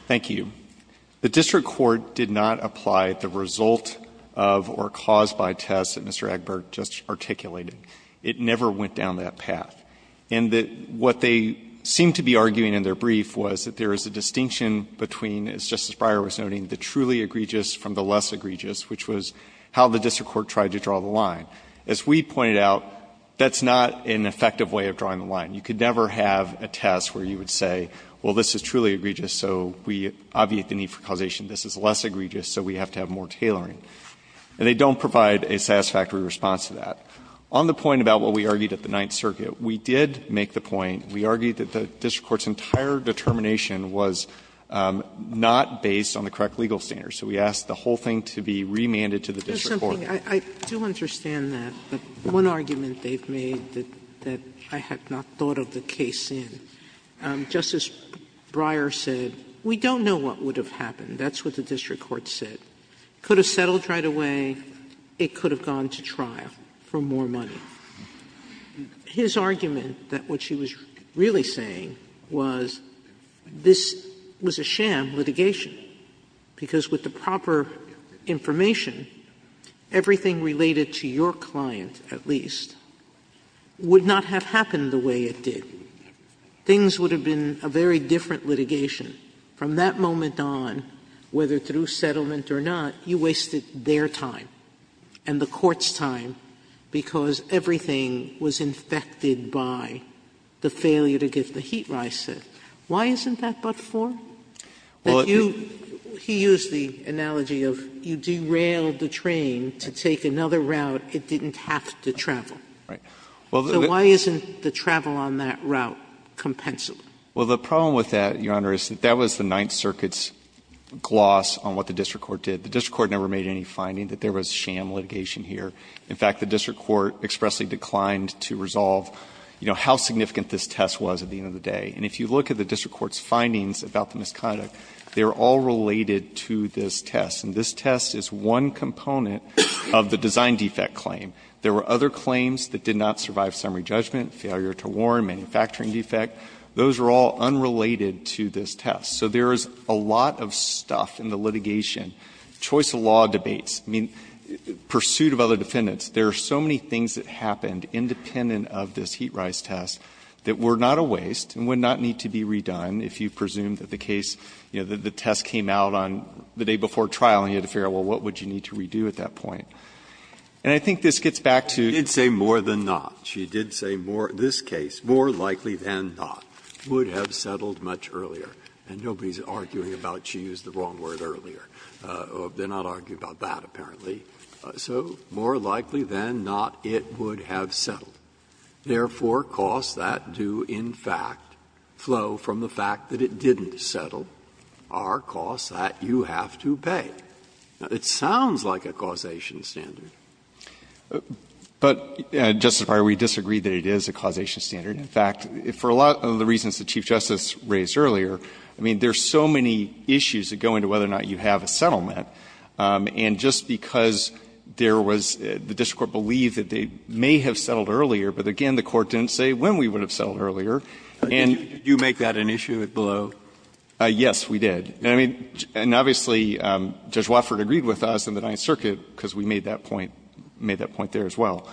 Thank you. The district court did not apply the result of or cause by test that Mr. Egbert just articulated. It never went down that path. And what they seemed to be arguing in their brief was that there is a distinction between, as Justice Breyer was noting, the truly egregious from the less egregious, which was how the district court tried to draw the line. As we pointed out, that's not an effective way of drawing the line. You could never have a test where you would say, well, this is truly egregious, so we obviate the need for causation. This is less egregious, so we have to have more tailoring. And they don't provide a satisfactory response to that. On the point about what we argued at the Ninth Circuit, we did make the point, we argued that the district court's entire determination was not based on the correct legal standard. So we asked the whole thing to be remanded to the district court. Sotomayor, I do understand that, but one argument they've made that I have not thought of the case in. Justice Breyer said, we don't know what would have happened. That's what the district court said. It could have settled right away. It could have gone to trial for more money. His argument that what she was really saying was this was a sham litigation, because with the proper information, everything related to your client, at least, would not have happened the way it did. Things would have been a very different litigation. From that moment on, whether through settlement or not, you wasted their time and the court's time, because everything was infected by the failure to get the heat rise set. Why isn't that but for? He used the analogy of you derailed the train to take another route. It didn't have to travel. So why isn't the travel on that route compensable? Well, the problem with that, Your Honor, is that that was the Ninth Circuit's gloss on what the district court did. The district court never made any finding that there was sham litigation here. In fact, the district court expressly declined to resolve, you know, how significant this test was at the end of the day. And if you look at the district court's findings about the misconduct, they are all related to this test, and this test is one component of the design defect claim. There were other claims that did not survive summary judgment, failure to warn, manufacturing defect. Those are all unrelated to this test. So there is a lot of stuff in the litigation, choice of law debates, I mean, pursuit of other defendants. There are so many things that happened independent of this heat rise test that were not a waste and would not need to be redone if you presumed that the case, you know, the test came out on the day before trial and you had to figure out, well, what would you need to redo at that point? And I think this gets back to the other point that you made, Justice Breyer. Breyer, in this case, more likely than not, would have settled much earlier. And nobody is arguing about she used the wrong word earlier. They are not arguing about that, apparently. So more likely than not, it would have settled. Therefore, costs that do, in fact, flow from the fact that it didn't settle are costs that you have to pay. It sounds like a causation standard. But, Justice Breyer, we disagree that it is a causation standard. In fact, for a lot of the reasons that the Chief Justice raised earlier, I mean, there are so many issues that go into whether or not you have a settlement. And just because there was the district court believed that they may have settled earlier, but, again, the court didn't say when we would have settled earlier. Did you make that an issue below? Yes, we did. And, obviously, Judge Watford agreed with us in the Ninth Circuit, because we made that point, made that point there as well.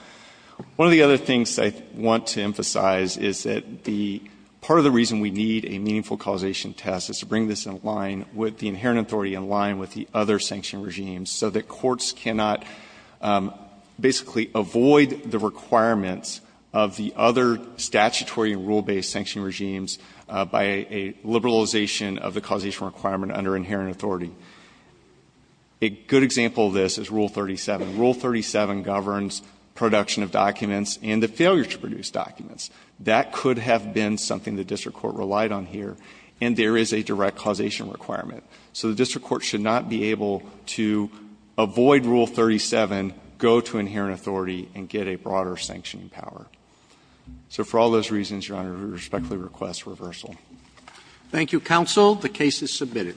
One of the other things I want to emphasize is that the part of the reason we need a meaningful causation test is to bring this in line with the inherent authority in line with the other sanction regimes, so that courts cannot basically avoid the requirements of the other statutory and rule-based sanction regimes by a liberalization of the causation requirement under inherent authority. A good example of this is Rule 37. Rule 37 governs production of documents and the failure to produce documents. That could have been something the district court relied on here, and there is a direct causation requirement. So the district court should not be able to avoid Rule 37, go to inherent authority, and get a broader sanctioning power. So for all those reasons, Your Honor, we respectfully request reversal. Thank you, counsel. The case is submitted.